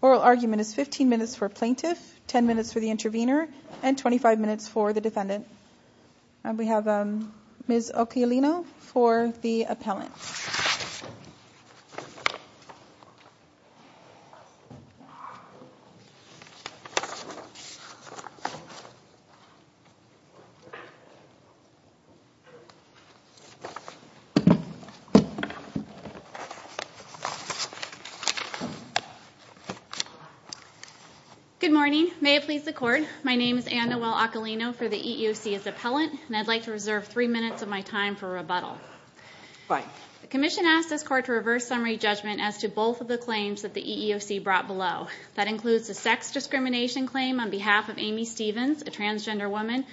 Oral argument is 15 minutes for Plaintiff, 10 minutes for the Intervenor, and 25 minutes for the Defendant. We have Ms. Occhialino for the Appellant. Good morning. May it please the Court, my name is Anne Noel Occhialino for the EEOC as Appellant, and I'd like to reserve three minutes of my time for rebuttal. The Commission asked this Court to reverse summary judgment as to both of the claims that the EEOC brought below. That includes the sex discrimination claim on behalf of Amy Stevens, a transgender woman,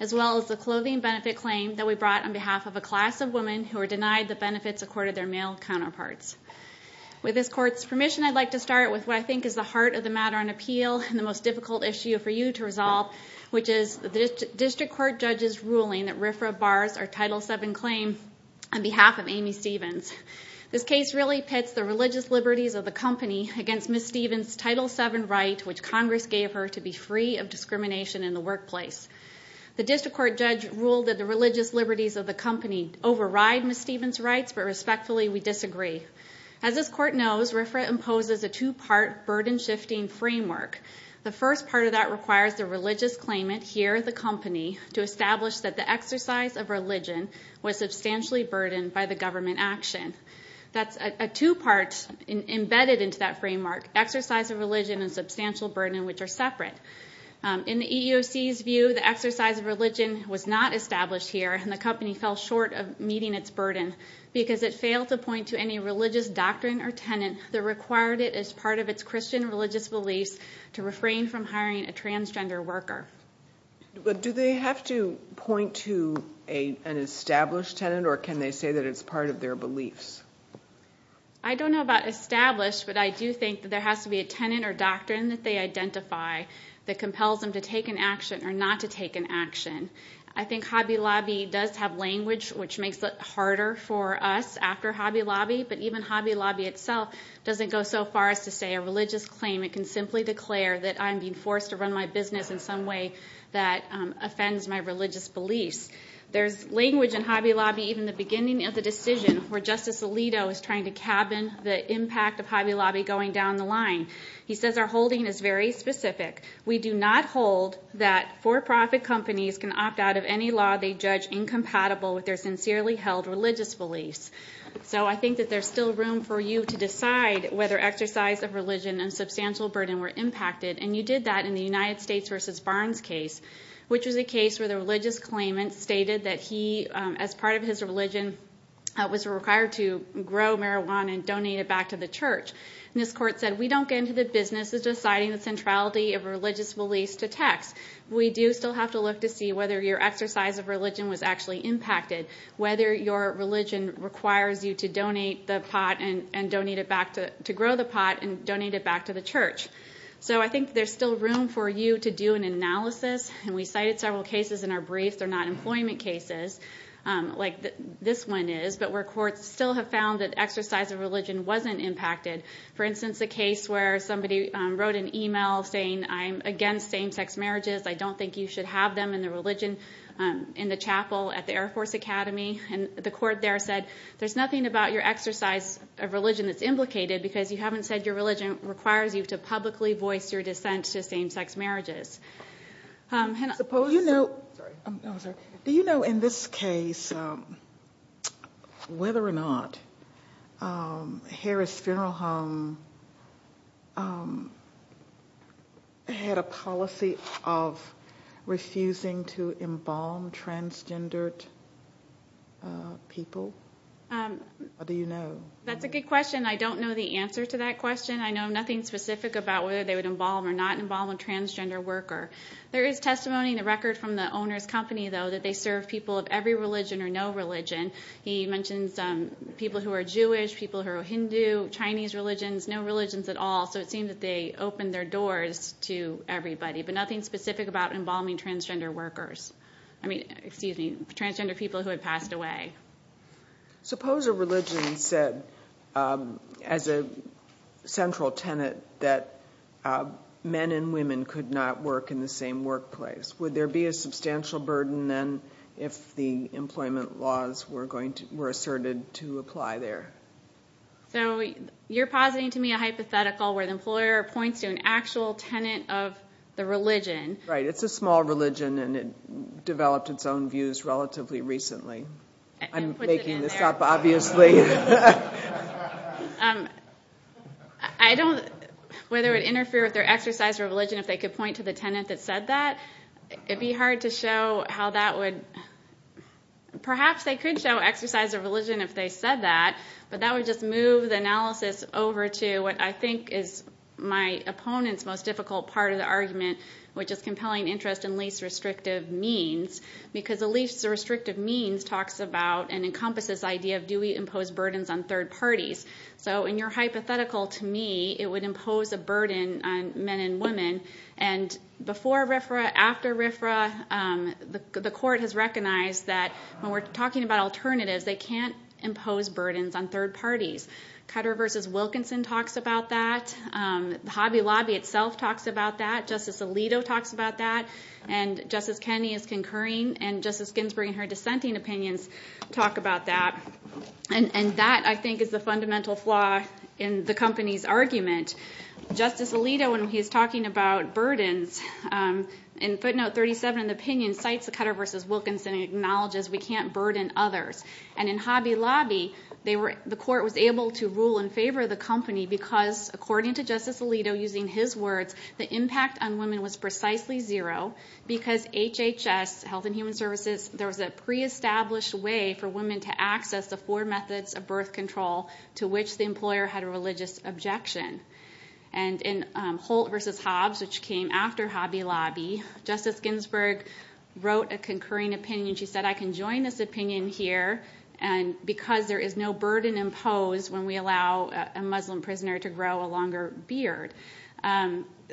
as well as the clothing benefit claim that we brought on behalf of a class of women who were denied the benefits accorded their male counterparts. With this Court's permission, I'd like to start with what I think is the heart of the matter on appeal and the most difficult issue for you to resolve, which is the District Court Judge's ruling that RFRA bars our Title VII claim on behalf of Amy Stevens. This case really pits the religious liberties of the company against Ms. Stevens' Title VII right, which Congress gave her to be free of discrimination in the workplace. The District Court Judge ruled that the religious liberties of the company override Ms. Stevens' rights, but respectfully, we disagree. As this Court knows, RFRA imposes a two-part burden-shifting framework. The first part of that requires the religious claimant, here the company, to establish that the exercise of religion was substantially burdened by the government action. That's a two-part embedded into that framework, exercise of religion and substantial burden, which are separate. In the EEOC's view, the exercise of religion was not established here, and the company fell short of meeting its burden because it failed to point to any religious doctrine or tenet that required it as part of its Christian religious beliefs to refrain from hiring a transgender worker. Do they have to point to an established tenet, or can they say that it's part of their beliefs? I don't know about established, but I do think that there has to be a tenet or doctrine that they identify that compels them to take an action or not to take an action. I think Hobby Lobby does have language, which makes it harder for us after Hobby Lobby, but even Hobby Lobby itself doesn't go so far as to say a religious claimant can simply declare that I'm being forced to run my business in some way that offends my religious beliefs. There's language in Hobby Lobby, even at the beginning of the decision, where Justice Alito is trying to cabin the impact of Hobby Lobby going down the line. He says, our holding is very specific. We do not hold that for-profit companies can opt out of any law they judge incompatible with their sincerely held religious beliefs. So I think that there's still room for you to decide whether exercise of religion and substantial burden were impacted, and you did that in the United States v. Barnes case, which was a case where the religious claimant stated that he, as part of his religion, was required to grow marijuana and donate it back to the church. And this court said, we don't get into the business of deciding the centrality of religious beliefs to tax. We do still have to look to see whether your exercise of religion was actually impacted, whether your religion requires you to grow the pot and donate it back to the church. So I think there's still room for you to do an analysis, and we cited several cases in our briefs that are not employment cases like this one is, but where courts still have found that exercise of religion wasn't impacted. For instance, a case where somebody wrote an email saying, I'm against same-sex marriages. I don't think you should have them in the religion in the chapel at the Air Force Academy. And the court there said, there's nothing about your exercise of religion that's implicated because you haven't said your religion requires you to publicly voice your dissent to same-sex marriages. Do you know in this case whether or not Harris Funeral Home had a policy of refusing to embalm transgendered people? That's a good question. I don't know the answer to that question. I know nothing specific about whether they would embalm or not embalm a transgender worker. There is testimony in the record from the owner's company, though, that they serve people of every religion or no religion. He mentions people who are Jewish, people who are Hindu, Chinese religions, no religions at all. So it seemed that they opened their doors to everybody, but nothing specific about embalming transgender people who had passed away. Suppose a religion said as a central tenet that men and women could not work in the same workplace. Would there be a substantial burden then if the employment laws were asserted to apply there? So you're positing to me a hypothetical where the employer points to an actual tenet of the religion. Right. It's a small religion, and it developed its own views relatively recently. I'm making this up, obviously. I don't know whether it would interfere with their exercise of religion if they could point to the tenet that said that. It would be hard to show how that would – perhaps they could show exercise of religion if they said that, but that would just move the analysis over to what I think is my opponent's most difficult part of the argument, which is compelling interest in least restrictive means, because the least restrictive means talks about and encompasses the idea of do we impose burdens on third parties. So in your hypothetical, to me, it would impose a burden on men and women. And before RFRA, after RFRA, the court has recognized that when we're talking about alternatives, they can't impose burdens on third parties. Cutter v. Wilkinson talks about that. Hobby Lobby itself talks about that. Justice Alito talks about that. And Justice Kennedy is concurring, and Justice Ginsburg in her dissenting opinions talk about that. And that, I think, is the fundamental flaw in the company's argument. Justice Alito, when he's talking about burdens, in footnote 37 of the opinion, cites the Cutter v. Wilkinson acknowledges we can't burden others. And in Hobby Lobby, the court was able to rule in favor of the company because, according to Justice Alito, using his words, the impact on women was precisely zero, because HHS, Health and Human Services, there was a pre-established way for women to access the four methods of birth control, to which the employer had a religious objection. And in Holt v. Hobbs, which came after Hobby Lobby, Justice Ginsburg wrote a concurring opinion. She said, I can join this opinion here because there is no burden imposed when we allow a Muslim prisoner to grow a longer beard.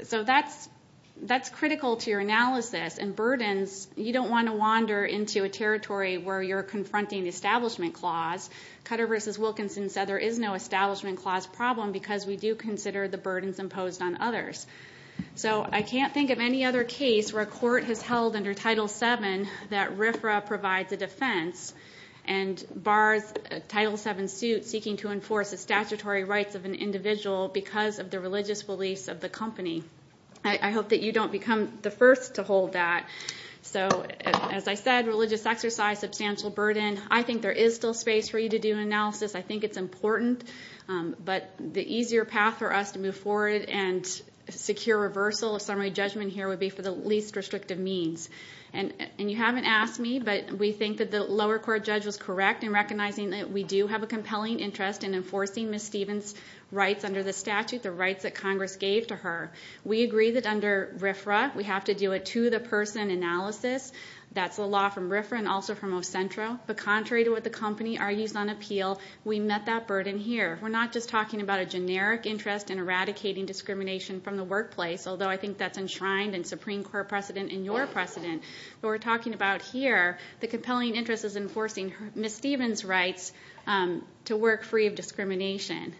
So that's critical to your analysis. And burdens, you don't want to wander into a territory where you're confronting the Establishment Clause. Cutter v. Wilkinson said there is no Establishment Clause problem because we do consider the burdens imposed on others. So I can't think of any other case where a court has held under Title VII that RFRA provides a defense and bars a Title VII suit seeking to enforce the statutory rights of an individual because of the religious beliefs of the company. I hope that you don't become the first to hold that. So as I said, religious exercise, substantial burden, I think there is still space for you to do analysis. I think it's important, but the easier path for us to move forward and secure reversal of summary judgment here would be for the least restrictive means. And you haven't asked me, but we think that the lower court judge was correct in recognizing that we do have a compelling interest in enforcing Ms. Stevens' rights under the statute, the rights that Congress gave to her. We agree that under RFRA, we have to do a to-the-person analysis. That's the law from RFRA and also from Ocentro. But contrary to what the company argues on appeal, we met that burden here. We're not just talking about a generic interest in eradicating discrimination from the workplace, although I think that's enshrined in Supreme Court precedent and your precedent. What we're talking about here, the compelling interest is enforcing Ms. Stevens' rights to work free of discrimination.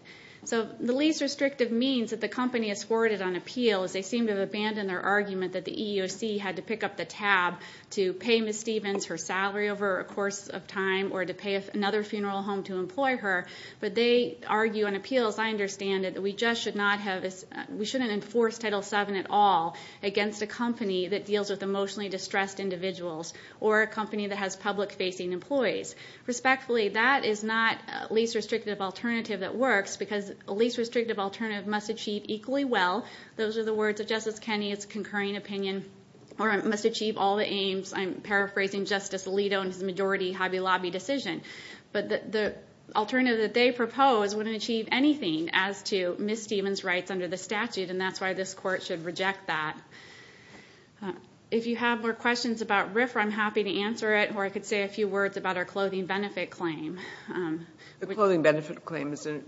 So the least restrictive means that the company has forwarded on appeal is they seem to have abandoned their argument that the EEOC had to pick up the tab to pay Ms. Stevens her salary over a course of time or to pay another funeral home to employ her. But they argue on appeal, as I understand it, that we just should not have, we shouldn't enforce Title VII at all against a company that deals with emotionally distressed individuals or a company that has public-facing employees. Respectfully, that is not a least restrictive alternative that works because a least restrictive alternative must achieve equally well, those are the words of Justice Kennedy, it's a concurring opinion, or it must achieve all the aims. I'm paraphrasing Justice Alito in his majority Hobby Lobby decision. But the alternative that they propose wouldn't achieve anything as to Ms. Stevens' rights under the statute, and that's why this Court should reject that. If you have more questions about RFRA, I'm happy to answer it, or I could say a few words about our clothing benefit claim. The clothing benefit claim is an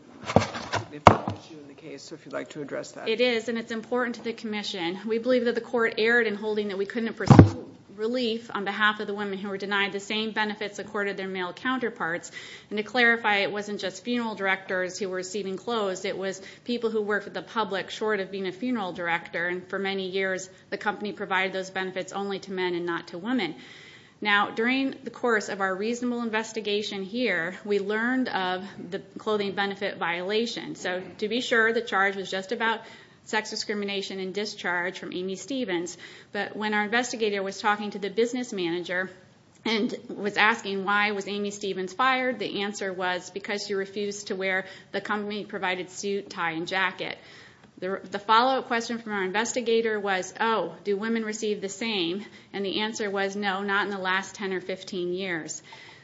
important issue in the case, so if you'd like to address that. It is, and it's important to the Commission. We believe that the Court erred in holding that we couldn't have pursued relief on behalf of the women who were denied the same benefits accorded to their male counterparts. And to clarify, it wasn't just funeral directors who were receiving clothes, it was people who worked with the public short of being a funeral director, and for many years the company provided those benefits only to men and not to women. Now, during the course of our reasonable investigation here, we learned of the clothing benefit violation. So to be sure, the charge was just about sex discrimination and discharge from Amy Stevens. But when our investigator was talking to the business manager and was asking why was Amy Stevens fired, the answer was because she refused to wear the company-provided suit, tie, and jacket. The follow-up question from our investigator was, oh, do women receive the same? And the answer was no, not in the last 10 or 15 years.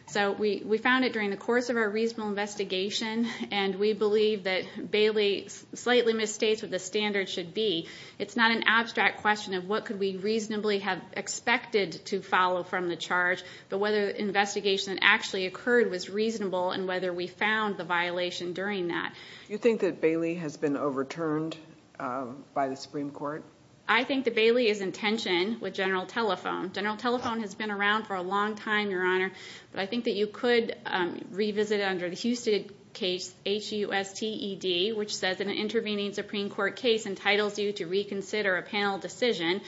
So we found it during the course of our reasonable investigation, and we believe that Bailey slightly misstates what the standard should be. It's not an abstract question of what could we reasonably have expected to follow from the charge, but whether the investigation that actually occurred was reasonable and whether we found the violation during that. Do you think that Bailey has been overturned by the Supreme Court? I think that Bailey is in tension with General Telephone. General Telephone has been around for a long time, Your Honor, but I think that you could revisit it under the Husted case, H-U-S-T-E-D, which says an intervening Supreme Court case entitles you to reconsider a panel decision.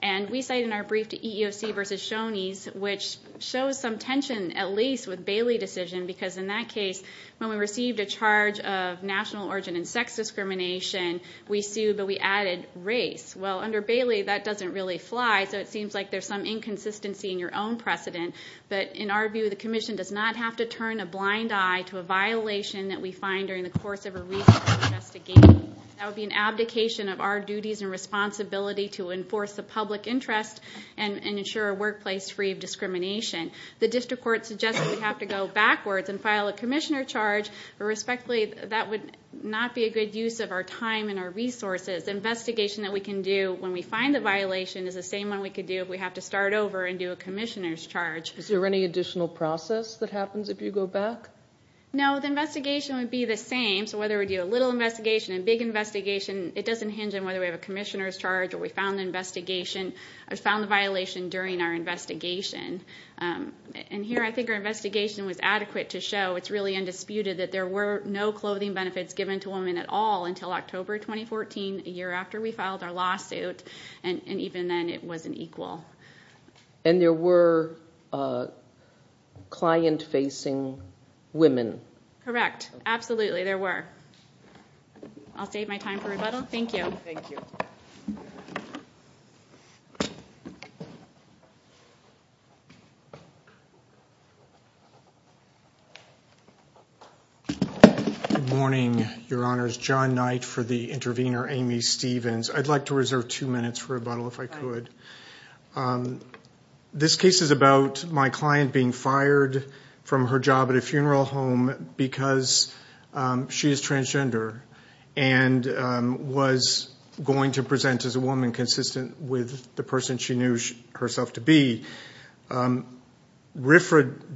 And we cite in our brief to EEOC versus Shoney's, which shows some tension at least with Bailey's decision, because in that case, when we received a charge of national origin and sex discrimination, we sued, but we added race. Well, under Bailey, that doesn't really fly, so it seems like there's some inconsistency in your own precedent. But in our view, the commission does not have to turn a blind eye to a violation that we find during the course of a research investigation. That would be an abdication of our duties and responsibility to enforce the public interest and ensure a workplace free of discrimination. The district court suggests that we have to go backwards and file a commissioner charge. Respectfully, that would not be a good use of our time and our resources. The investigation that we can do when we find a violation is the same one we could do if we have to start over and do a commissioner's charge. Is there any additional process that happens if you go back? No, the investigation would be the same. So whether we do a little investigation, a big investigation, it doesn't hinge on whether we have a commissioner's charge or we found the violation during our investigation. And here I think our investigation was adequate to show, it's really undisputed, that there were no clothing benefits given to women at all until October 2014, a year after we filed our lawsuit, and even then it wasn't equal. And there were client-facing women? Correct. Absolutely, there were. I'll save my time for rebuttal. Thank you. Thank you. Good morning, Your Honors. John Knight for the intervener, Amy Stevens. I'd like to reserve two minutes for rebuttal, if I could. This case is about my client being fired from her job at a funeral home because she is transgender and was going to present as a woman consistent with the person she knew herself to be. RFRA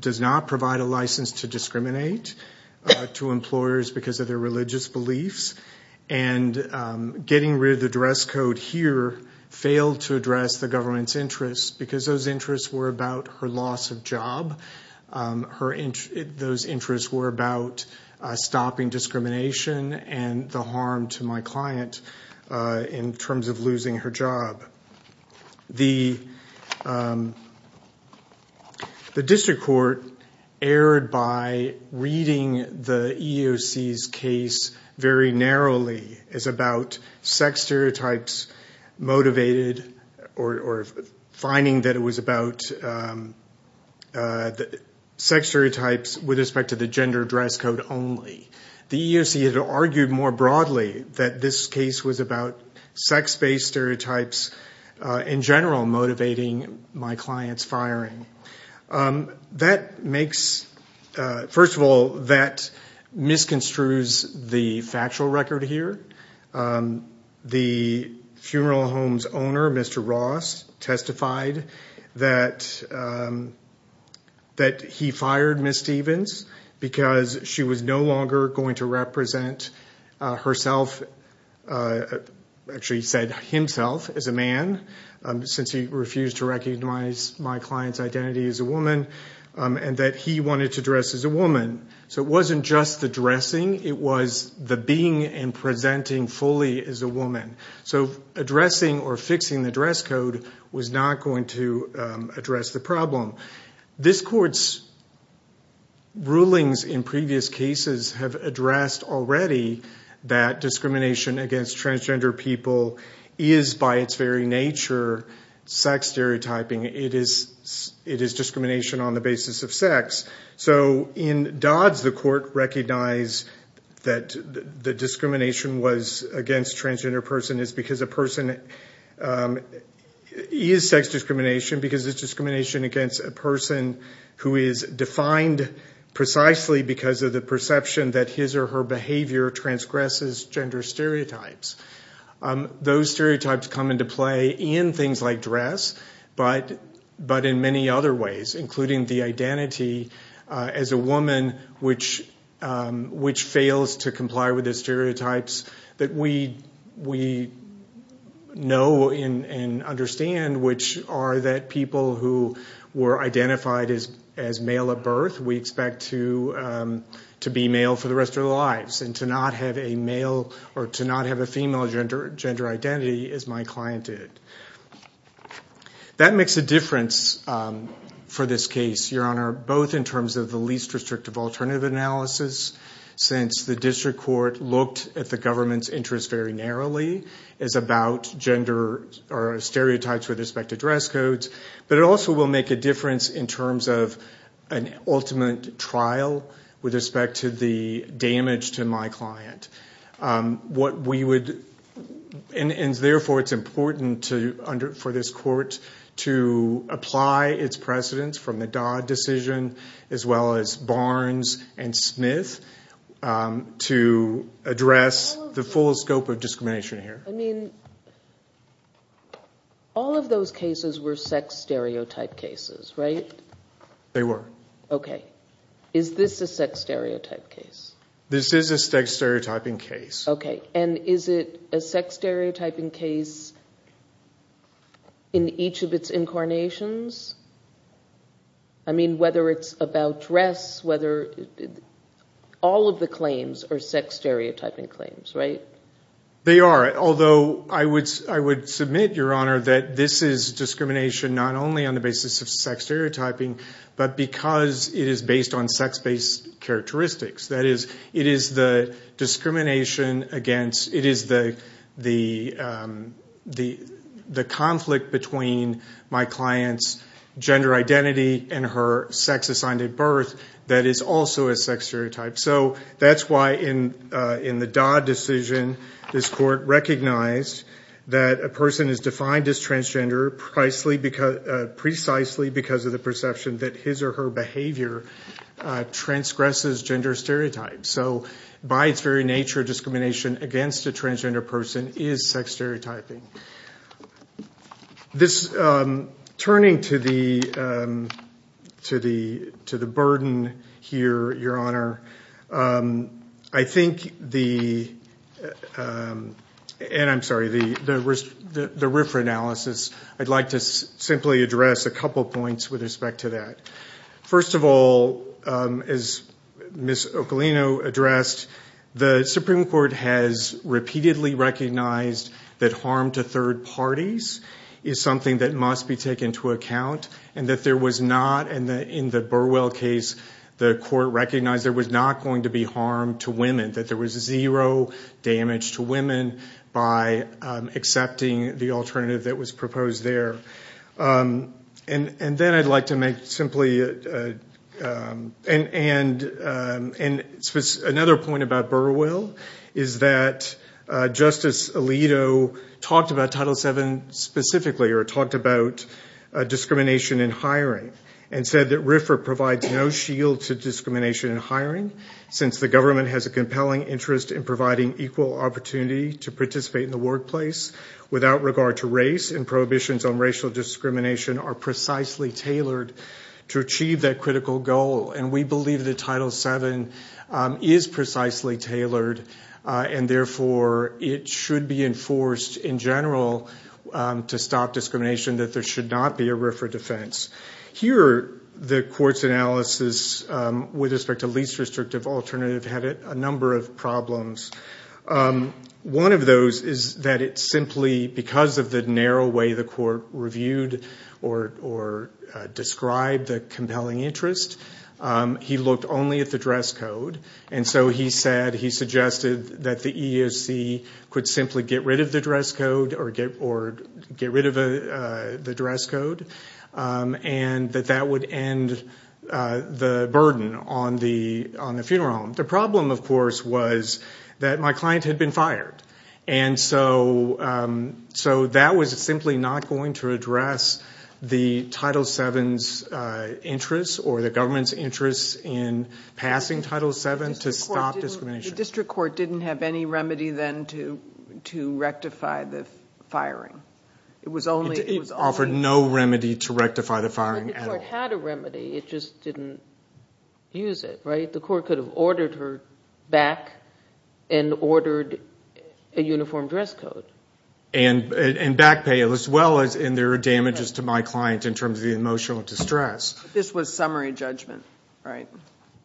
does not provide a license to discriminate to employers because of their religious beliefs, and getting rid of the duress code here failed to address the government's interests because those interests were about her loss of job. Those interests were about stopping discrimination and the harm to my client in terms of losing her job. The district court erred by reading the EEOC's case very narrowly as about sex stereotypes motivated or finding that it was about sex stereotypes with respect to the gender duress code only. The EEOC had argued more broadly that this case was about sex-based stereotypes in general motivating my client's firing. First of all, that misconstrues the factual record here. The funeral home's owner, Mr. Ross, testified that he fired Ms. Stevens because she was no longer going to represent herself as a man since he refused to recognize my client's identity as a woman, and that he wanted to dress as a woman. So it wasn't just the dressing, it was the being and presenting fully as a woman. So addressing or fixing the duress code was not going to address the problem. This court's rulings in previous cases have addressed already that discrimination against transgender people is by its very nature sex stereotyping. It is discrimination on the basis of sex. So in Dodds, the court recognized that the discrimination was against a transgender person is because a person is sex discrimination because it's discrimination against a person who is defined precisely because of the perception that his or her behavior transgresses gender stereotypes. Those stereotypes come into play in things like dress, but in many other ways, including the identity as a woman which fails to comply with the stereotypes that we know and understand, which are that people who were identified as male at birth, we expect to be male for the rest of their lives, and to not have a male or to not have a female gender identity as my client did. That makes a difference for this case, Your Honor, both in terms of the least restrictive alternative analysis, since the district court looked at the government's interest very narrowly as about gender or stereotypes with respect to dress codes, but it also will make a difference in terms of an ultimate trial with respect to the damage to my client. What we would, and therefore it's important for this court to apply its precedents from the Dodd decision, as well as Barnes and Smith, to address the full scope of discrimination here. I mean, all of those cases were sex stereotype cases, right? They were. Okay. Is this a sex stereotype case? This is a sex stereotyping case. Okay. And is it a sex stereotyping case in each of its incarnations? I mean, whether it's about dress, whether – all of the claims are sex stereotyping claims, right? They are, although I would submit, Your Honor, that this is discrimination not only on the basis of sex stereotyping, but because it is based on sex-based characteristics. That is, it is the discrimination against – it is the conflict between my client's gender identity and her sex-assigned at birth that is also a sex stereotype. So that's why in the Dodd decision, this court recognized that a person is defined as transgender precisely because of the perception that his or her behavior transgresses gender stereotypes. So by its very nature, discrimination against a transgender person is sex stereotyping. This – turning to the burden here, Your Honor, I think the – and I'm sorry, the RFRA analysis, I'd like to simply address a couple points with respect to that. First of all, as Ms. Ocolino addressed, the Supreme Court has repeatedly recognized that harm to third parties is something that must be taken into account, and that there was not – in the Burwell case, the court recognized there was not going to be harm to women, that there was zero damage to women by accepting the alternative that was proposed there. And then I'd like to make simply – and another point about Burwell is that Justice Alito talked about Title VII specifically or talked about discrimination in hiring and said that RFRA provides no shield to discrimination in hiring since the government has a compelling interest in providing equal opportunity to participate in the workplace without regard to race and prohibitions on racial discrimination are precisely tailored to achieve that critical goal. And we believe that Title VII is precisely tailored, and therefore it should be enforced in general to stop discrimination, that there should not be a RFRA defense. Here, the court's analysis with respect to least restrictive alternative had a number of problems. One of those is that it simply – because of the narrow way the court reviewed or described the compelling interest, he looked only at the dress code. And so he said – he suggested that the EEOC could simply get rid of the dress code or get rid of the dress code, and that that would end the burden on the funeral home. The problem, of course, was that my client had been fired, and so that was simply not going to address the Title VII's interest or the government's interest in passing Title VII to stop discrimination. The district court didn't have any remedy then to rectify the firing. It was only – It offered no remedy to rectify the firing at all. The court had a remedy, it just didn't use it, right? The court could have ordered her back and ordered a uniform dress code. And back pay, as well as – and there were damages to my client in terms of the emotional distress. This was summary judgment, right?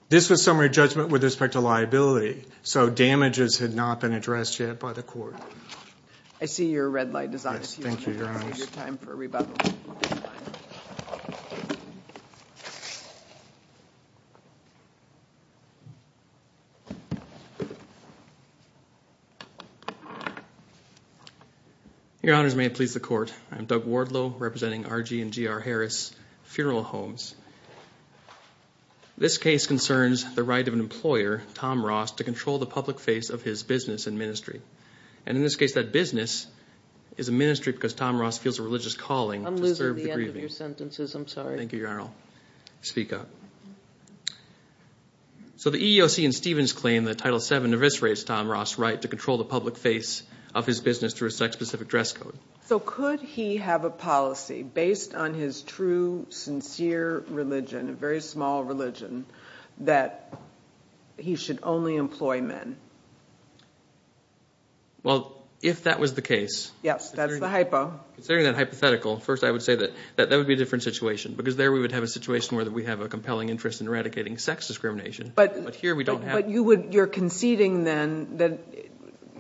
This was summary judgment with respect to liability, so damages had not been addressed yet by the court. I see your red light is on. Yes, thank you, Your Honor. We have your time for rebuttal. Your Honors, may it please the Court. I'm Doug Wardlow, representing R.G. and G.R. Harris Funeral Homes. This case concerns the right of an employer, Tom Ross, to control the public face of his business and ministry. And in this case, that business is a ministry because Tom Ross feels a religious calling to serve the grieving. I'm losing the end of your sentences. I'm sorry. Thank you, Your Honor. Speak up. So the EEOC and Stevens claim that Title VII eviscerates Tom Ross' right to control the public face of his business through a sex-specific dress code. So could he have a policy based on his true, sincere religion, a very small religion, that he should only employ men? Well, if that was the case… Yes, that's the hypo. Considering that hypothetical, first I would say that that would be a different situation because there we would have a situation where we have a compelling interest in eradicating sex discrimination. But you're conceding then that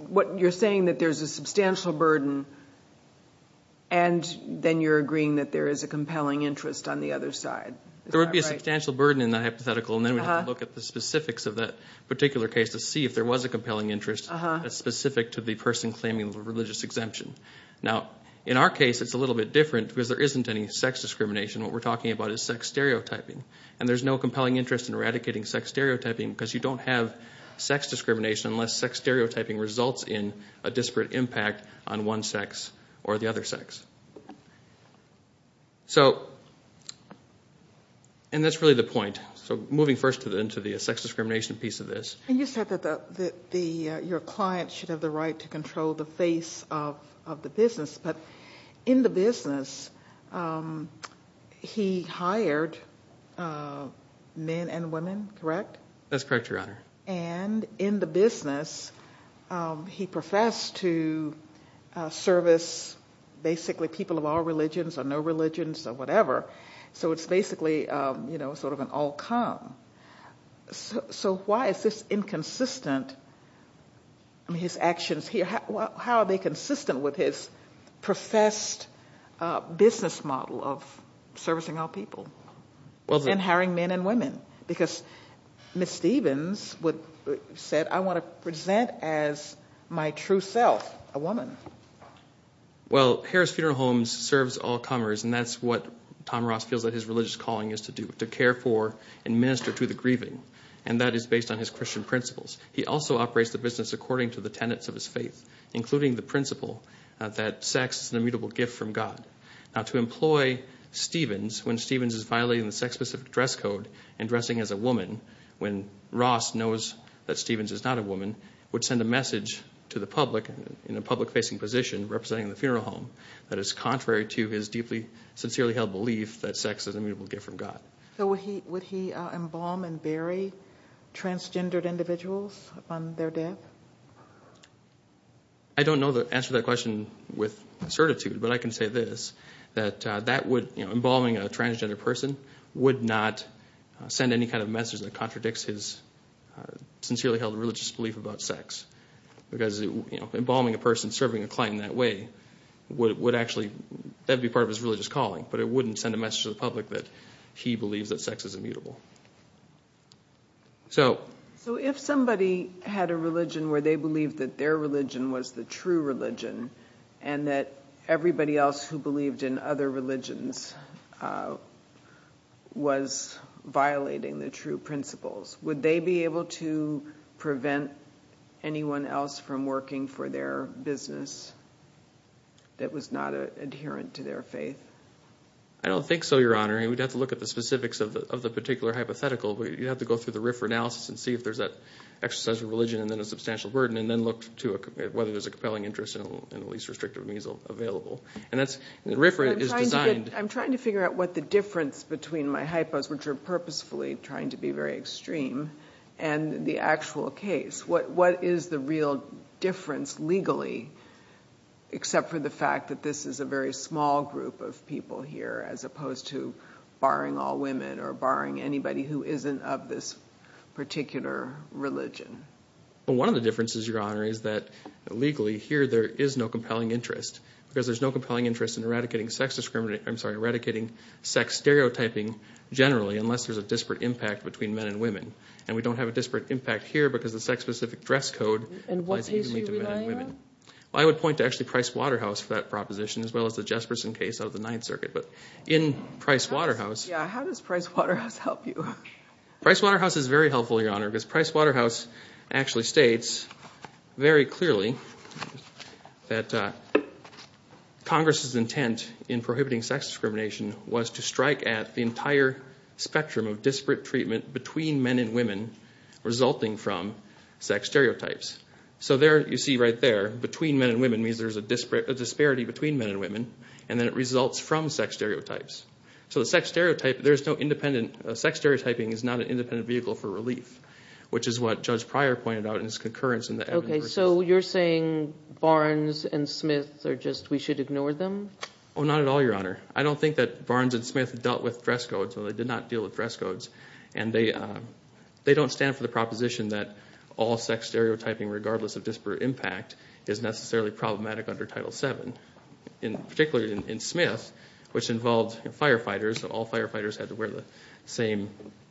what you're saying that there's a substantial burden, and then you're agreeing that there is a compelling interest on the other side. There would be a substantial burden in that hypothetical, and then we'd have to look at the specifics of that particular case to see if there was a compelling interest that's specific to the person claiming religious exemption. Now, in our case, it's a little bit different because there isn't any sex discrimination. What we're talking about is sex stereotyping. And there's no compelling interest in eradicating sex stereotyping because you don't have sex discrimination unless sex stereotyping results in a disparate impact on one sex or the other sex. And that's really the point. So moving first into the sex discrimination piece of this. You said that your client should have the right to control the face of the business, but in the business, he hired men and women, correct? That's correct, Your Honor. And in the business, he professed to service basically people of all religions or no religions or whatever. So it's basically sort of an all-come. So why is this inconsistent? How are they consistent with his professed business model of servicing all people and hiring men and women? Because Ms. Stevens said, I want to present as my true self, a woman. Well, Harris Funeral Homes serves all comers, and that's what Tom Ross feels that his religious calling is to do, to care for and minister to the grieving. And that is based on his Christian principles. He also operates the business according to the tenets of his faith, including the principle that sex is an immutable gift from God. Now to employ Stevens, when Stevens is violating the sex-specific dress code and dressing as a woman, when Ross knows that Stevens is not a woman, would send a message to the public in a public-facing position representing the funeral home that is contrary to his deeply, sincerely held belief that sex is an immutable gift from God. So would he embalm and bury transgendered individuals upon their death? I don't know the answer to that question with certitude, but I can say this. That embalming a transgender person would not send any kind of message that contradicts his sincerely held religious belief about sex. Because embalming a person serving a client in that way, that would be part of his religious calling. But it wouldn't send a message to the public that he believes that sex is immutable. So if somebody had a religion where they believed that their religion was the true religion, and that everybody else who believed in other religions was violating the true principles, would they be able to prevent anyone else from working for their business that was not adherent to their faith? I don't think so, Your Honor. We'd have to look at the specifics of the particular hypothetical. You'd have to go through the RFRA analysis and see if there's that exercise of religion and then a substantial burden, and then look to whether there's a compelling interest in the least restrictive means available. And the RFRA is designed... I'm trying to figure out what the difference between my hypos, which are purposefully trying to be very extreme, and the actual case. What is the real difference legally, except for the fact that this is a very small group of people here, as opposed to barring all women or barring anybody who isn't of this particular religion? Well, one of the differences, Your Honor, is that legally here there is no compelling interest, because there's no compelling interest in eradicating sex stereotyping generally, unless there's a disparate impact between men and women. And we don't have a disparate impact here because the sex-specific dress code applies evenly to men and women. And what case are you relying on? Well, I would point to actually Price-Waterhouse for that proposition, as well as the Jesperson case out of the Ninth Circuit. But in Price-Waterhouse... Yeah, how does Price-Waterhouse help you? Price-Waterhouse is very helpful, Your Honor, because Price-Waterhouse actually states very clearly that Congress's intent in prohibiting sex discrimination was to strike at the entire spectrum of disparate treatment between men and women resulting from sex stereotypes. So there, you see right there, between men and women means there's a disparity between men and women, and then it results from sex stereotypes. So sex stereotyping is not an independent vehicle for relief, which is what Judge Pryor pointed out in his concurrence in the evidence. So you're saying Barnes and Smith are just, we should ignore them? Oh, not at all, Your Honor. I don't think that Barnes and Smith dealt with dress codes, although they did not deal with dress codes. And they don't stand for the proposition that all sex stereotyping, regardless of disparate impact, is necessarily problematic under Title VII. Particularly in Smith, which involved firefighters, all firefighters had to wear the same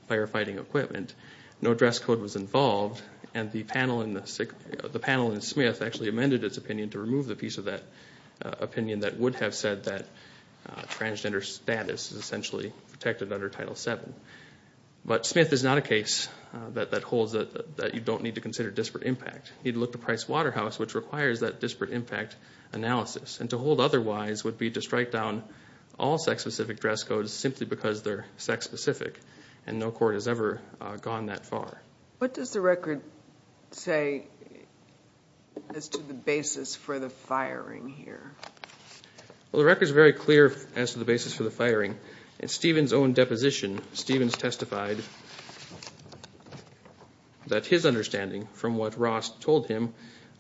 firefighting equipment. No dress code was involved, and the panel in Smith actually amended its opinion to remove the piece of that opinion that would have said that transgender status is essentially protected under Title VII. But Smith is not a case that holds that you don't need to consider disparate impact. You need to look to Price-Waterhouse, which requires that disparate impact analysis. And to hold otherwise would be to strike down all sex-specific dress codes simply because they're sex-specific, and no court has ever gone that far. What does the record say as to the basis for the firing here? Well, the record is very clear as to the basis for the firing. In Stevens' own deposition, Stevens testified that his understanding from what Ross told him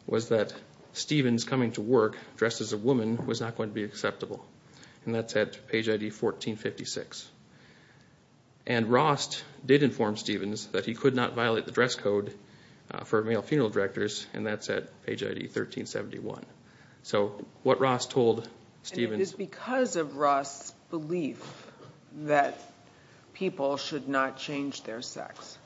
was that Stevens coming to work dressed as a woman was not going to be acceptable. And that's at page ID 1456. And Ross did inform Stevens that he could not violate the dress code for male funeral directors, and that's at page ID 1371. And it is because of Ross' belief that people should not change their sex?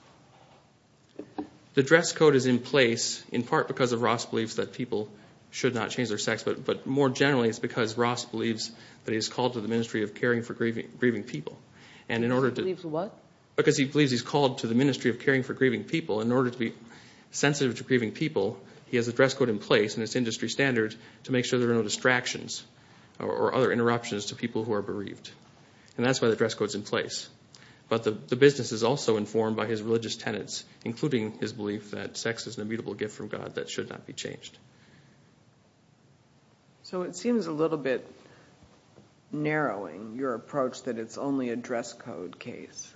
The dress code is in place in part because of Ross' belief that people should not change their sex, but more generally it's because Ross believes that he's called to the Ministry of Caring for Grieving People. He believes what? Because he believes he's called to the Ministry of Caring for Grieving People. In order to be sensitive to grieving people, he has a dress code in place in his industry standard to make sure there are no distractions or other interruptions to people who are bereaved. And that's why the dress code's in place. But the business is also informed by his religious tenets, including his belief that sex is an immutable gift from God that should not be changed. So it seems a little bit narrowing, your approach, that it's only a dress code case,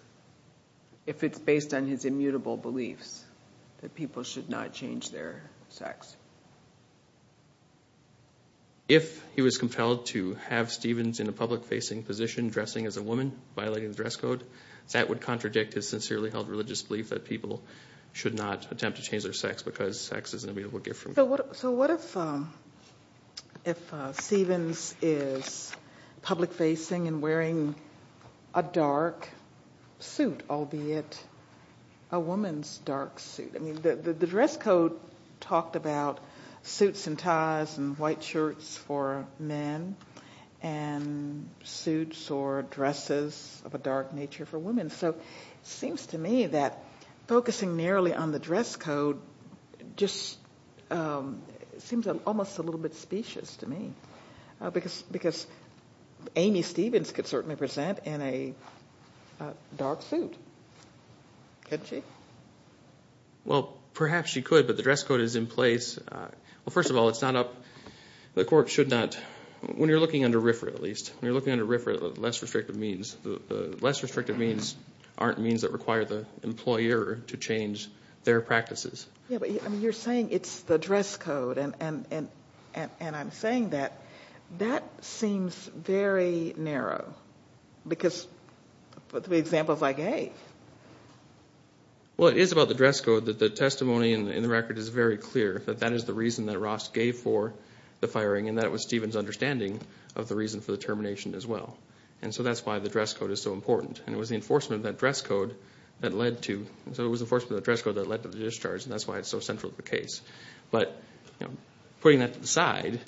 if it's based on his immutable beliefs that people should not change their sex. If he was compelled to have Stevens in a public-facing position dressing as a woman, violating the dress code, that would contradict his sincerely held religious belief that people should not attempt to change their sex because sex is an immutable gift from God. So what if Stevens is public-facing and wearing a dark suit, albeit a woman's dark suit? The dress code talked about suits and ties and white shirts for men and suits or dresses of a dark nature for women. So it seems to me that focusing narrowly on the dress code just seems almost a little bit specious to me because Amy Stevens could certainly present in a dark suit, couldn't she? Well, perhaps she could, but the dress code is in place. Well, first of all, it's not up – the corps should not – when you're looking under RFRA, at least, when you're looking under RFRA, the less restrictive means aren't means that require the employer to change their practices. Yeah, but you're saying it's the dress code, and I'm saying that. That seems very narrow because of the examples I gave. Well, it is about the dress code that the testimony in the record is very clear, that that is the reason that Ross gave for the firing, and that was Stevens' understanding of the reason for the termination as well. And so that's why the dress code is so important. And it was the enforcement of that dress code that led to – and that's why it's so central to the case. But putting that to the side,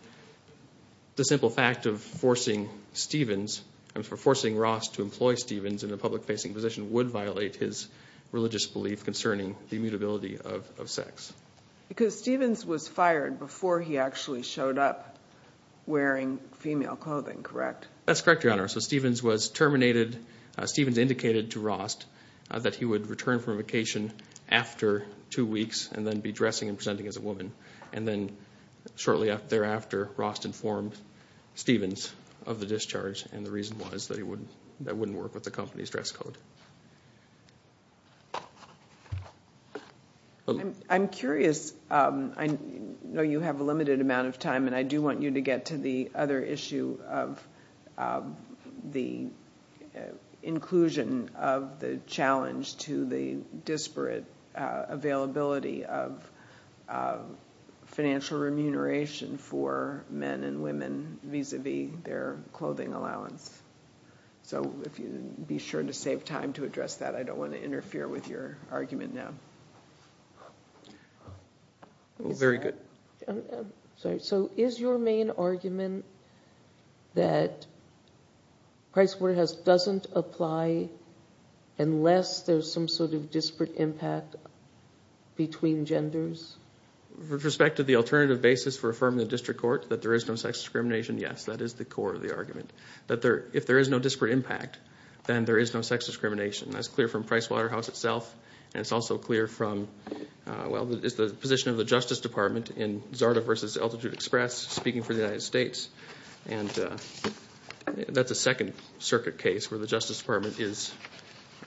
the simple fact of forcing Stevens – of forcing Ross to employ Stevens in a public-facing position would violate his religious belief concerning the immutability of sex. Because Stevens was fired before he actually showed up wearing female clothing, correct? That's correct, Your Honor. So Stevens was terminated – Stevens indicated to Ross that he would return from vacation after two weeks and then be dressing and presenting as a woman. And then shortly thereafter, Ross informed Stevens of the discharge, and the reason was that it wouldn't work with the company's dress code. I'm curious – I know you have a limited amount of time, and I do want you to get to the other issue of the inclusion of the challenge to the disparate availability of financial remuneration for men and women vis-à-vis their clothing allowance. So be sure to save time to address that. I don't want to interfere with your argument now. Very good. So is your main argument that Pricewaterhouse doesn't apply unless there's some sort of disparate impact between genders? With respect to the alternative basis for affirming the district court, that there is no sex discrimination, yes. That is the core of the argument, that if there is no disparate impact, then there is no sex discrimination. That's clear from Pricewaterhouse itself, and it's also clear from the position of the Justice Department in Zarda v. Altitude Express speaking for the United States. And that's a Second Circuit case where the Justice Department is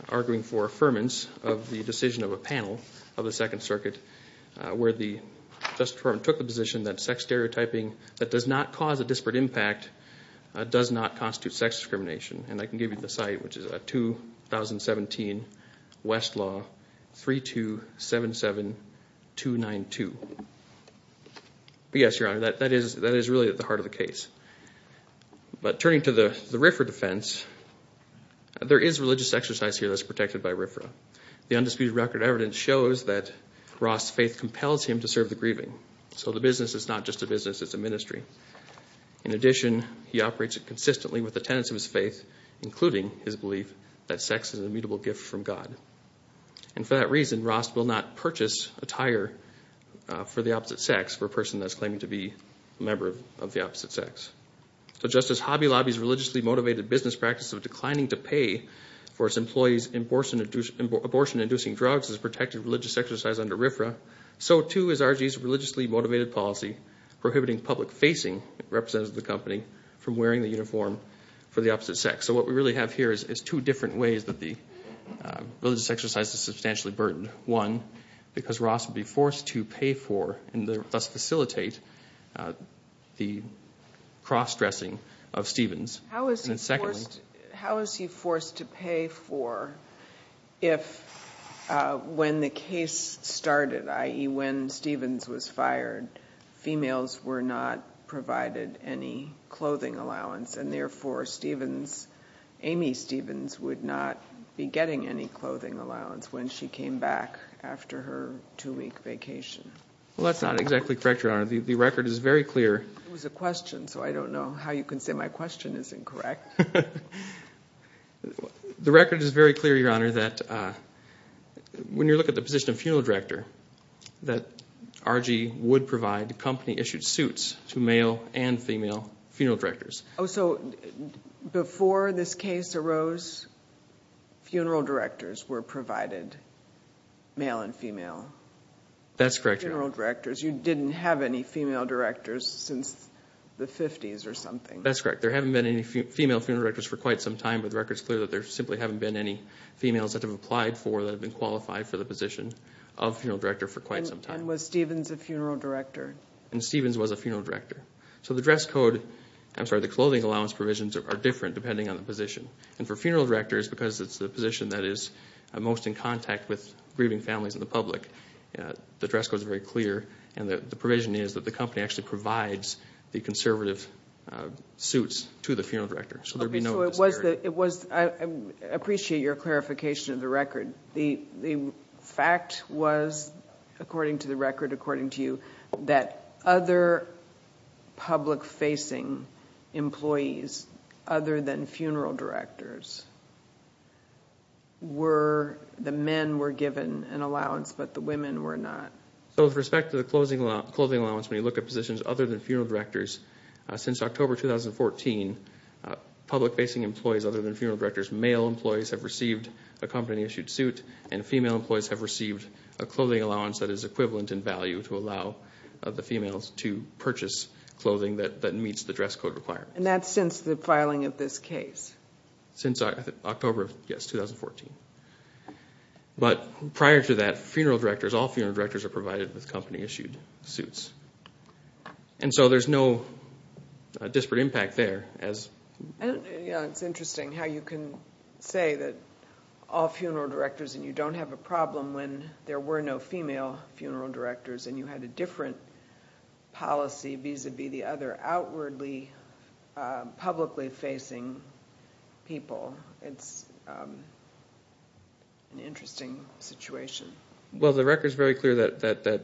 arguing for affirmance of the decision of a panel of the Second Circuit where the Justice Department took the position that sex stereotyping that does not cause a disparate impact does not constitute sex discrimination. And I can give you the site, which is 2017 Westlaw 3277292. But yes, Your Honor, that is really at the heart of the case. But turning to the RFRA defense, there is religious exercise here that's protected by RFRA. The undisputed record evidence shows that Ross' faith compels him to serve the grieving. So the business is not just a business, it's a ministry. In addition, he operates it consistently with the tenets of his faith, including his belief that sex is an immutable gift from God. And for that reason, Ross will not purchase attire for the opposite sex, for a person that's claiming to be a member of the opposite sex. So just as Hobby Lobby's religiously motivated business practice of declining to pay for its employees' abortion-inducing drugs is a protected religious exercise under RFRA, so too is RG's religiously motivated policy prohibiting public-facing representatives of the company from wearing the uniform for the opposite sex. So what we really have here is two different ways that the religious exercise is substantially burdened. One, because Ross would be forced to pay for and thus facilitate the cross-dressing of Stevens. And then secondly- How is he forced to pay for if when the case started, i.e. when Stevens was fired, females were not provided any clothing allowance, and therefore Amy Stevens would not be getting any clothing allowance when she came back after her two-week vacation? Well, that's not exactly correct, Your Honor. The record is very clear- It was a question, so I don't know how you can say my question is incorrect. The record is very clear, Your Honor, that when you look at the position of funeral director, that RG would provide company-issued suits to male and female funeral directors. Oh, so before this case arose, funeral directors were provided, male and female? That's correct, Your Honor. Funeral directors. You didn't have any female directors since the 50s or something? That's correct. There haven't been any female funeral directors for quite some time, but the record is clear that there simply haven't been any females that have applied for, that have been qualified for the position of funeral director for quite some time. And was Stevens a funeral director? And Stevens was a funeral director. So the dress code, I'm sorry, the clothing allowance provisions are different depending on the position. And for funeral directors, because it's the position that is most in contact with grieving families and the public, the dress code is very clear and the provision is that the company actually provides the conservative suits to the funeral director. So there would be no disparity. I appreciate your clarification of the record. The fact was, according to the record, according to you, that other public-facing employees other than funeral directors were, the men were given an allowance, but the women were not. So with respect to the clothing allowance, when you look at positions other than funeral directors, since October 2014, public-facing employees other than funeral directors, male employees have received a company-issued suit and female employees have received a clothing allowance that is equivalent in value to allow the females to purchase clothing that meets the dress code requirements. And that's since the filing of this case? Since October, yes, 2014. But prior to that, funeral directors, all funeral directors are provided with company-issued suits. And so there's no disparate impact there. It's interesting how you can say that all funeral directors, and you don't have a problem when there were no female funeral directors and you had a different policy vis-à-vis the other outwardly publicly-facing people. It's an interesting situation. Well, the record is very clear that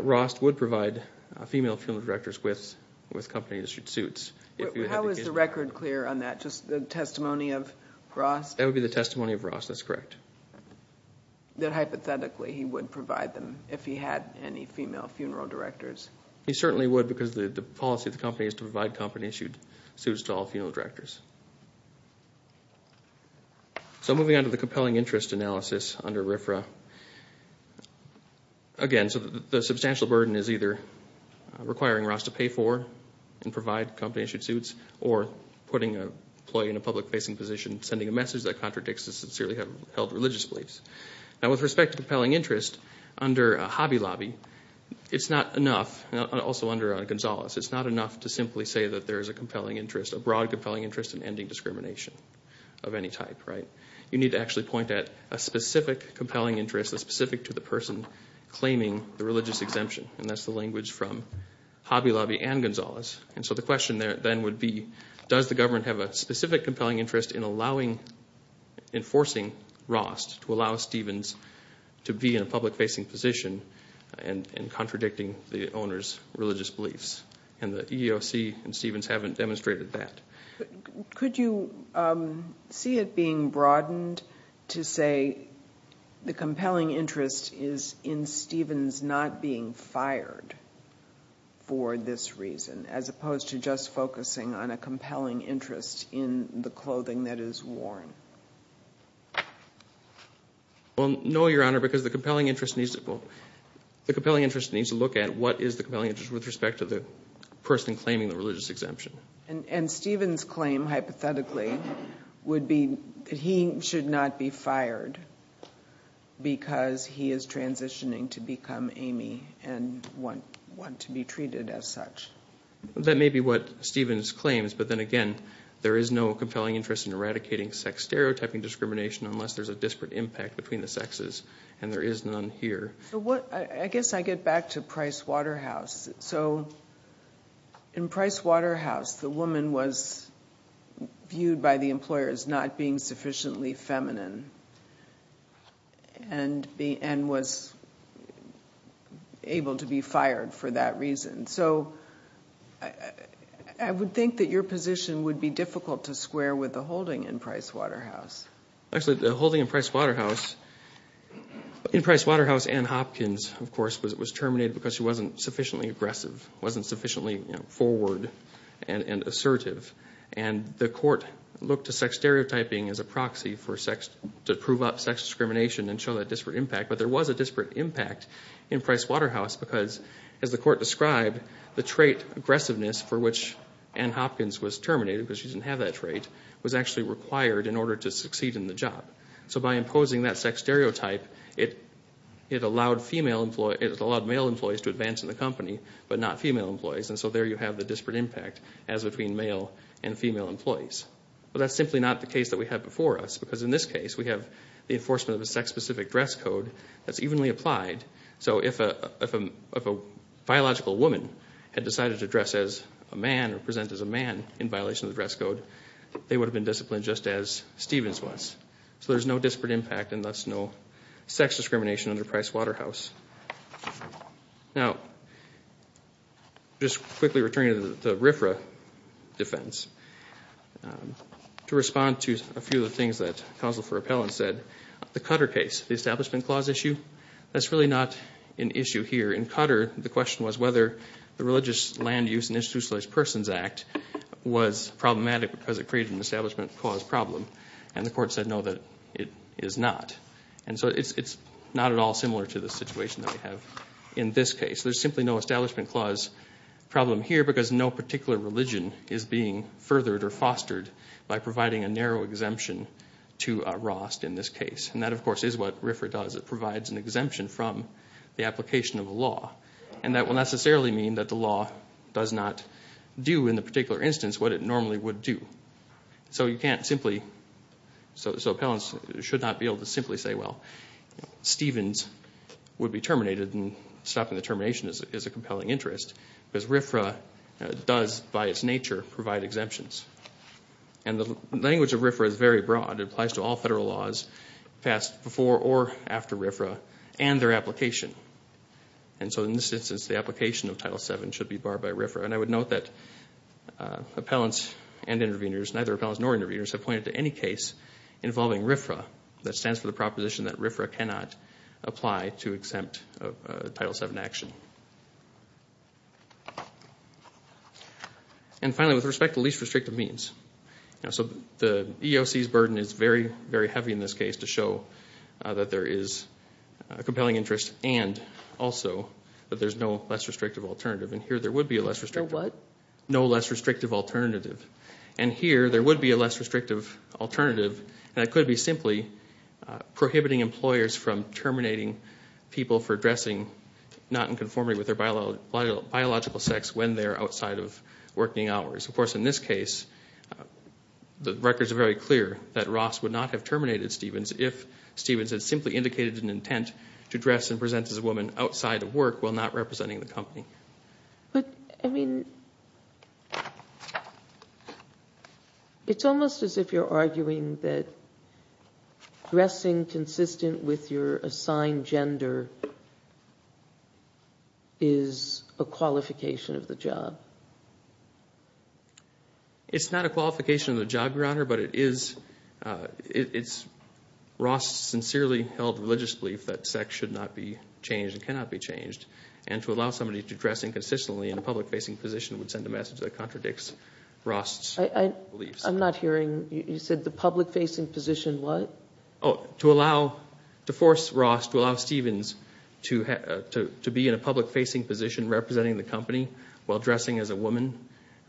Rost would provide female funeral directors with company-issued suits. How is the record clear on that, just the testimony of Rost? That would be the testimony of Rost, that's correct. That hypothetically he would provide them if he had any female funeral directors? He certainly would because the policy of the company is to provide company-issued suits to all funeral directors. So moving on to the compelling interest analysis under RFRA. Again, the substantial burden is either requiring Rost to pay for and provide company-issued suits or putting an employee in a public-facing position, sending a message that contradicts his sincerely held religious beliefs. Now, with respect to compelling interest, under Hobby Lobby, it's not enough, and also under Gonzales, it's not enough to simply say that there is a compelling interest, a broad compelling interest in ending discrimination of any type. You need to actually point at a specific compelling interest, a specific to the person claiming the religious exemption, and that's the language from Hobby Lobby and Gonzales. And so the question then would be, does the government have a specific compelling interest in enforcing Rost to allow Stevens to be in a public-facing position and contradicting the owner's religious beliefs? And the EEOC and Stevens haven't demonstrated that. Could you see it being broadened to say the compelling interest is in Stevens not being fired for this reason as opposed to just focusing on a compelling interest in the clothing that is worn? Well, no, Your Honor, because the compelling interest needs to look at what is the compelling interest with respect to the person claiming the religious exemption. And Stevens' claim, hypothetically, would be that he should not be fired because he is transitioning to become Amy and want to be treated as such. That may be what Stevens claims, but then again, there is no compelling interest in eradicating sex-stereotyping discrimination unless there's a disparate impact between the sexes, and there is none here. I guess I get back to Price Waterhouse. So in Price Waterhouse, the woman was viewed by the employer as not being sufficiently feminine and was able to be fired for that reason. So I would think that your position would be difficult to square with the holding in Price Waterhouse. Actually, the holding in Price Waterhouse, in Price Waterhouse, Anne Hopkins, of course, was terminated because she wasn't sufficiently aggressive, wasn't sufficiently forward and assertive. And the court looked to sex-stereotyping as a proxy to prove out sex discrimination and show that disparate impact, but there was a disparate impact in Price Waterhouse because, as the court described, the trait aggressiveness for which Anne Hopkins was terminated, because she didn't have that trait, was actually required in order to succeed in the job. So by imposing that sex stereotype, it allowed male employees to advance in the company, but not female employees. And so there you have the disparate impact as between male and female employees. But that's simply not the case that we have before us, because in this case we have the enforcement of a sex-specific dress code that's evenly applied. So if a biological woman had decided to dress as a man or present as a man in violation of the dress code, they would have been disciplined just as Stevens was. So there's no disparate impact and thus no sex discrimination under Price Waterhouse. Now, just quickly returning to the RFRA defense, to respond to a few of the things that counsel for appellants said, the Cutter case, the Establishment Clause issue, that's really not an issue here. In Cutter, the question was whether the Religious Land Use and Institutionalized Persons Act was problematic because it created an Establishment Clause problem. And the court said, no, that it is not. And so it's not at all similar to the situation that we have in this case. There's simply no Establishment Clause problem here because no particular religion is being furthered or fostered by providing a narrow exemption to a ROST in this case. And that, of course, is what RFRA does. It provides an exemption from the application of a law. And that will necessarily mean that the law does not do in the particular instance what it normally would do. So you can't simply, so appellants should not be able to simply say, well, Stevens would be terminated and stopping the termination is a compelling interest because RFRA does, by its nature, provide exemptions. And the language of RFRA is very broad. It applies to all federal laws passed before or after RFRA and their application. And so in this instance, the application of Title VII should be barred by RFRA. And I would note that appellants and intervenors, neither appellants nor intervenors, have pointed to any case involving RFRA that stands for the proposition that RFRA cannot apply to exempt a Title VII action. And finally, with respect to least restrictive means. So the EEOC's burden is very, very heavy in this case to show that there is a compelling interest and also that there's no less restrictive alternative. And here there would be a less restrictive. No what? No less restrictive alternative. And here there would be a less restrictive alternative, and it could be simply prohibiting employers from terminating people for dressing not in conformity with their biological sex when they're outside of working hours. Of course, in this case, the records are very clear that Ross would not have terminated Stevens if Stevens had simply indicated an intent to dress and present as a woman outside of work while not representing the company. But, I mean, it's almost as if you're arguing that dressing consistent with your assigned gender is a qualification of the job. It's not a qualification of the job, Your Honor, but it's Ross' sincerely held religious belief that sex should not be changed and cannot be changed. And to allow somebody to dress inconsistently in a public-facing position would send a message that contradicts Ross' beliefs. I'm not hearing. You said the public-facing position what? To force Ross to allow Stevens to be in a public-facing position representing the company while dressing as a woman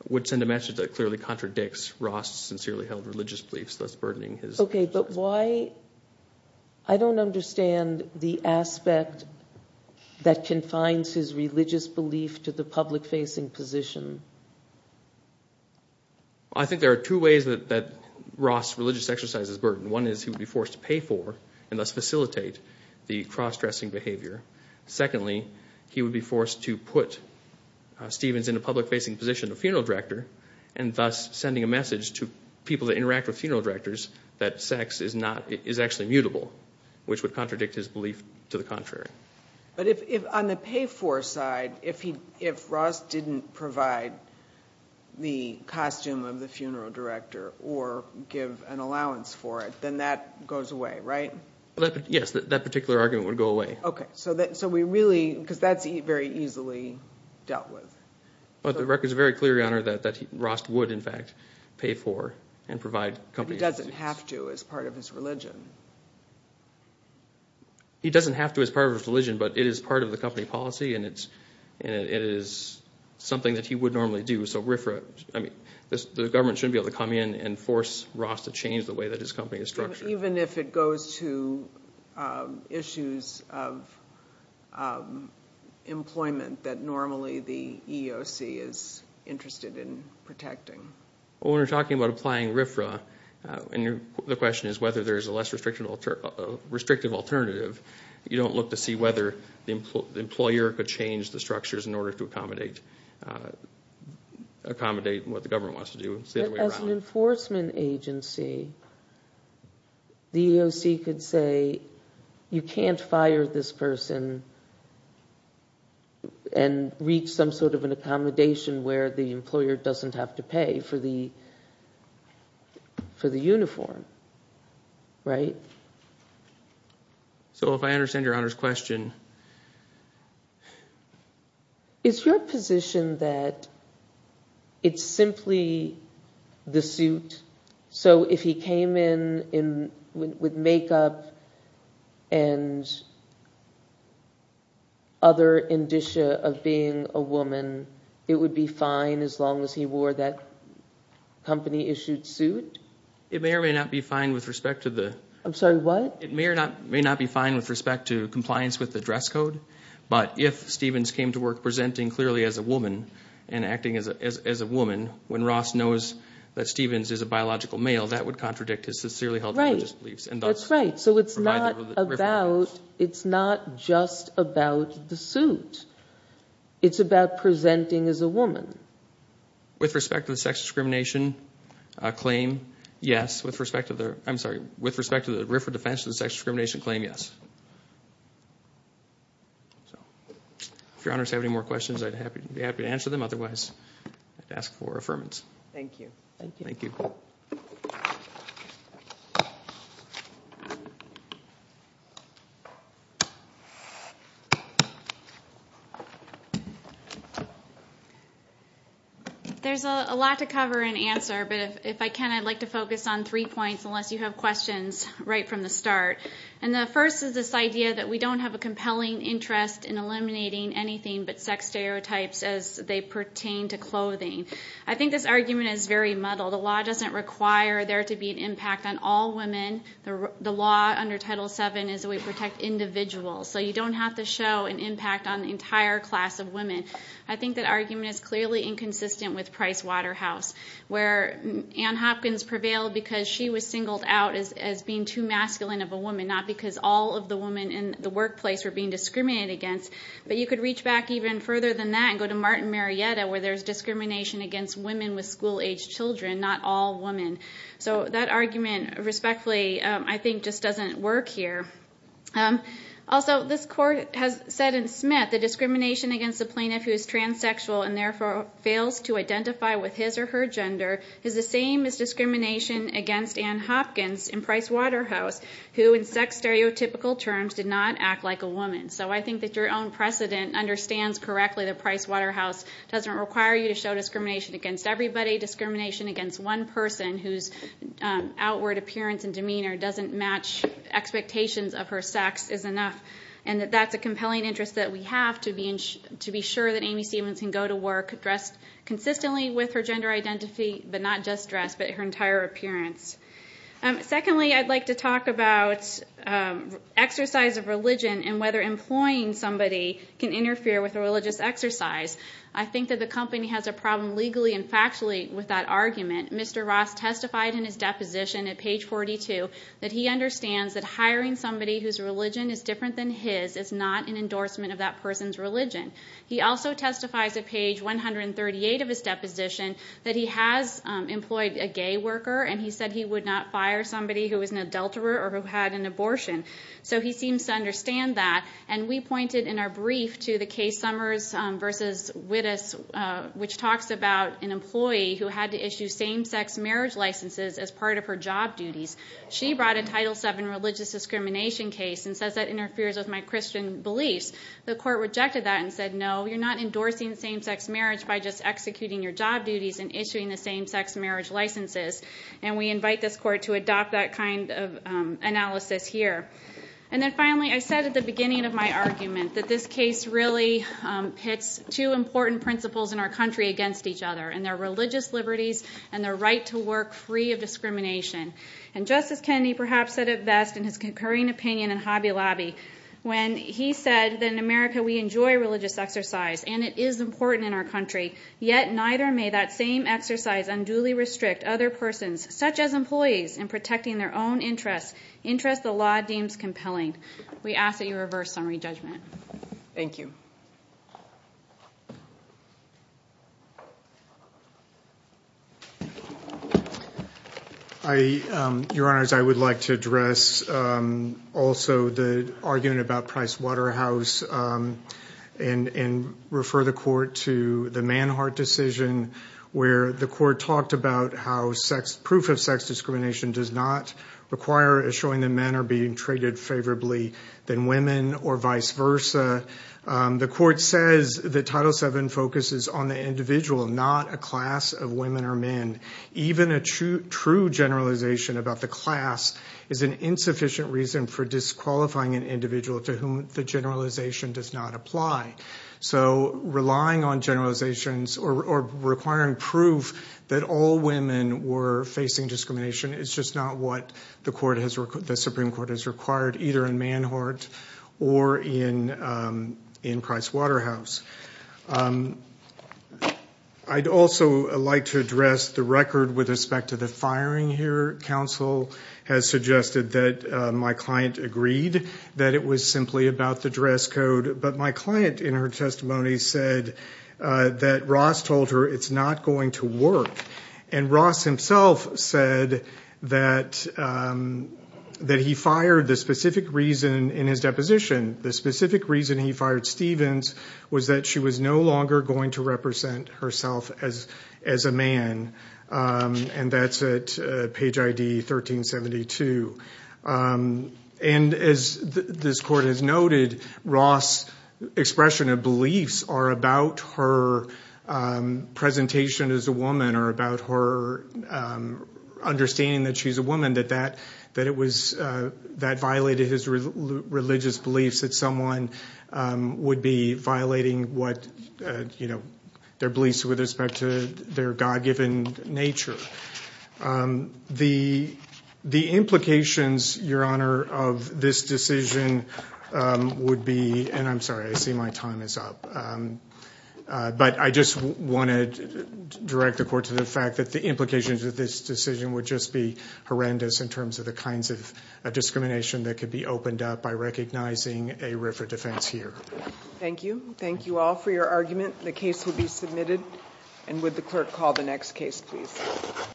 would send a message that clearly contradicts Ross' sincerely held religious beliefs, thus burdening his sex work. Okay, but why? I don't understand the aspect that confines his religious belief to the public-facing position. I think there are two ways that Ross' religious exercise is burdened. One is he would be forced to pay for and thus facilitate the cross-dressing behavior. Secondly, he would be forced to put Stevens in a public-facing position of funeral director and thus sending a message to people that interact with funeral directors that sex is actually mutable, which would contradict his belief to the contrary. But on the pay-for side, if Ross didn't provide the costume of the funeral director or give an allowance for it, then that goes away, right? Yes, that particular argument would go away. Okay, because that's very easily dealt with. The record is very clear, Your Honor, that Ross would, in fact, pay for and provide. But he doesn't have to as part of his religion. He doesn't have to as part of his religion, but it is part of the company policy and it is something that he would normally do. So the government shouldn't be able to come in and force Ross to change the way that his company is structured. Even if it goes to issues of employment that normally the EEOC is interested in protecting? When we're talking about applying RFRA, the question is whether there's a less restrictive alternative. You don't look to see whether the employer could change the structures in order to accommodate what the government wants to do. As an enforcement agency, the EEOC could say, you can't fire this person and reach some sort of an accommodation where the employer doesn't have to pay for the uniform, right? So if I understand Your Honor's question. Is your position that it's simply the suit? So if he came in with makeup and other indicia of being a woman, it would be fine as long as he wore that company issued suit? It may or may not be fine with respect to the... I'm sorry, what? It may or may not be fine with respect to compliance with the dress code, but if Stevens came to work presenting clearly as a woman and acting as a woman, when Ross knows that Stevens is a biological male, that would contradict his sincerely held religious beliefs. That's right. So it's not just about the suit. It's about presenting as a woman. With respect to the sex discrimination claim, yes. With respect to the RIFRA defense of the sex discrimination claim, yes. If Your Honor has any more questions, I'd be happy to answer them. Otherwise, I'd ask for affirmance. Thank you. Thank you. There's a lot to cover and answer, but if I can I'd like to focus on three points unless you have questions right from the start. And the first is this idea that we don't have a compelling interest in eliminating anything but sex stereotypes as they pertain to clothing. I think this argument is very muddled. The law doesn't require there to be an impact on all women. The law under Title VII is that we protect individuals, so you don't have to show an impact on the entire class of women. I think that argument is clearly inconsistent with Price Waterhouse, where Ann Hopkins prevailed because she was singled out as being too masculine of a woman, not because all of the women in the workplace were being discriminated against. But you could reach back even further than that and go to Martin Marietta, where there's discrimination against women with school-aged children, not all women. So that argument, respectfully, I think just doesn't work here. Also, this court has said in Smith that discrimination against a plaintiff who is transsexual and therefore fails to identify with his or her gender is the same as discrimination against Ann Hopkins in Price Waterhouse, who in sex stereotypical terms did not act like a woman. So I think that your own precedent understands correctly that Price Waterhouse doesn't require you to show discrimination against everybody, discrimination against one person whose outward appearance and demeanor doesn't match expectations of her sex is enough, and that that's a compelling interest that we have to be sure that Amy Stevens can go to work dressed consistently with her gender identity, but not just dressed, but her entire appearance. Secondly, I'd like to talk about exercise of religion and whether employing somebody can interfere with a religious exercise. I think that the company has a problem legally and factually with that argument. Mr. Ross testified in his deposition at page 42 that he understands that hiring somebody whose religion is different than his is not an endorsement of that person's religion. He also testifies at page 138 of his deposition that he has employed a gay worker and he said he would not fire somebody who was an adulterer or who had an abortion. So he seems to understand that. And we pointed in our brief to the case Summers v. Wittes, which talks about an employee who had to issue same-sex marriage licenses as part of her job duties. She brought a Title VII religious discrimination case and says that interferes with my Christian beliefs. The court rejected that and said, no, you're not endorsing same-sex marriage by just executing your job duties and issuing the same-sex marriage licenses, and we invite this court to adopt that kind of analysis here. And then finally, I said at the beginning of my argument that this case really hits two important principles in our country against each other, and they're religious liberties and the right to work free of discrimination. And Justice Kennedy perhaps said it best in his concurring opinion in Hobby Lobby when he said that in America we enjoy religious exercise and it is important in our country, yet neither may that same exercise unduly restrict other persons, such as employees, in protecting their own interests, interests the law deems compelling. We ask that you reverse summary judgment. Thank you. Your Honors, I would like to address also the argument about Price Waterhouse and refer the court to the Manhart decision where the court talked about how proof of sex discrimination does not require showing that men are being treated favorably than women or vice versa. The court says that Title VII focuses on the individual, not a class of women or men. Even a true generalization about the class is an insufficient reason for disqualifying an individual to whom the generalization does not apply. So relying on generalizations or requiring proof that all women were facing discrimination is just not what the Supreme Court has required, either in Manhart or in Price Waterhouse. I'd also like to address the record with respect to the firing here. Counsel has suggested that my client agreed that it was simply about the dress code, but my client in her testimony said that Ross told her it's not going to work. And Ross himself said that he fired the specific reason in his deposition, the specific reason he fired Stevens was that she was no longer going to represent herself as a man. And that's at page ID 1372. And as this court has noted, Ross' expression of beliefs are about her presentation as a woman or about her understanding that she's a woman, that that violated his religious beliefs that someone would be violating their beliefs with respect to their God-given nature. The implications, Your Honor, of this decision would be, and I'm sorry, I see my time is up, but I just wanted to direct the court to the fact that the implications of this decision would just be horrendous in terms of the kinds of discrimination that could be opened up by recognizing a RIFRA defense here. The case will be submitted. And would the clerk call the next case, please.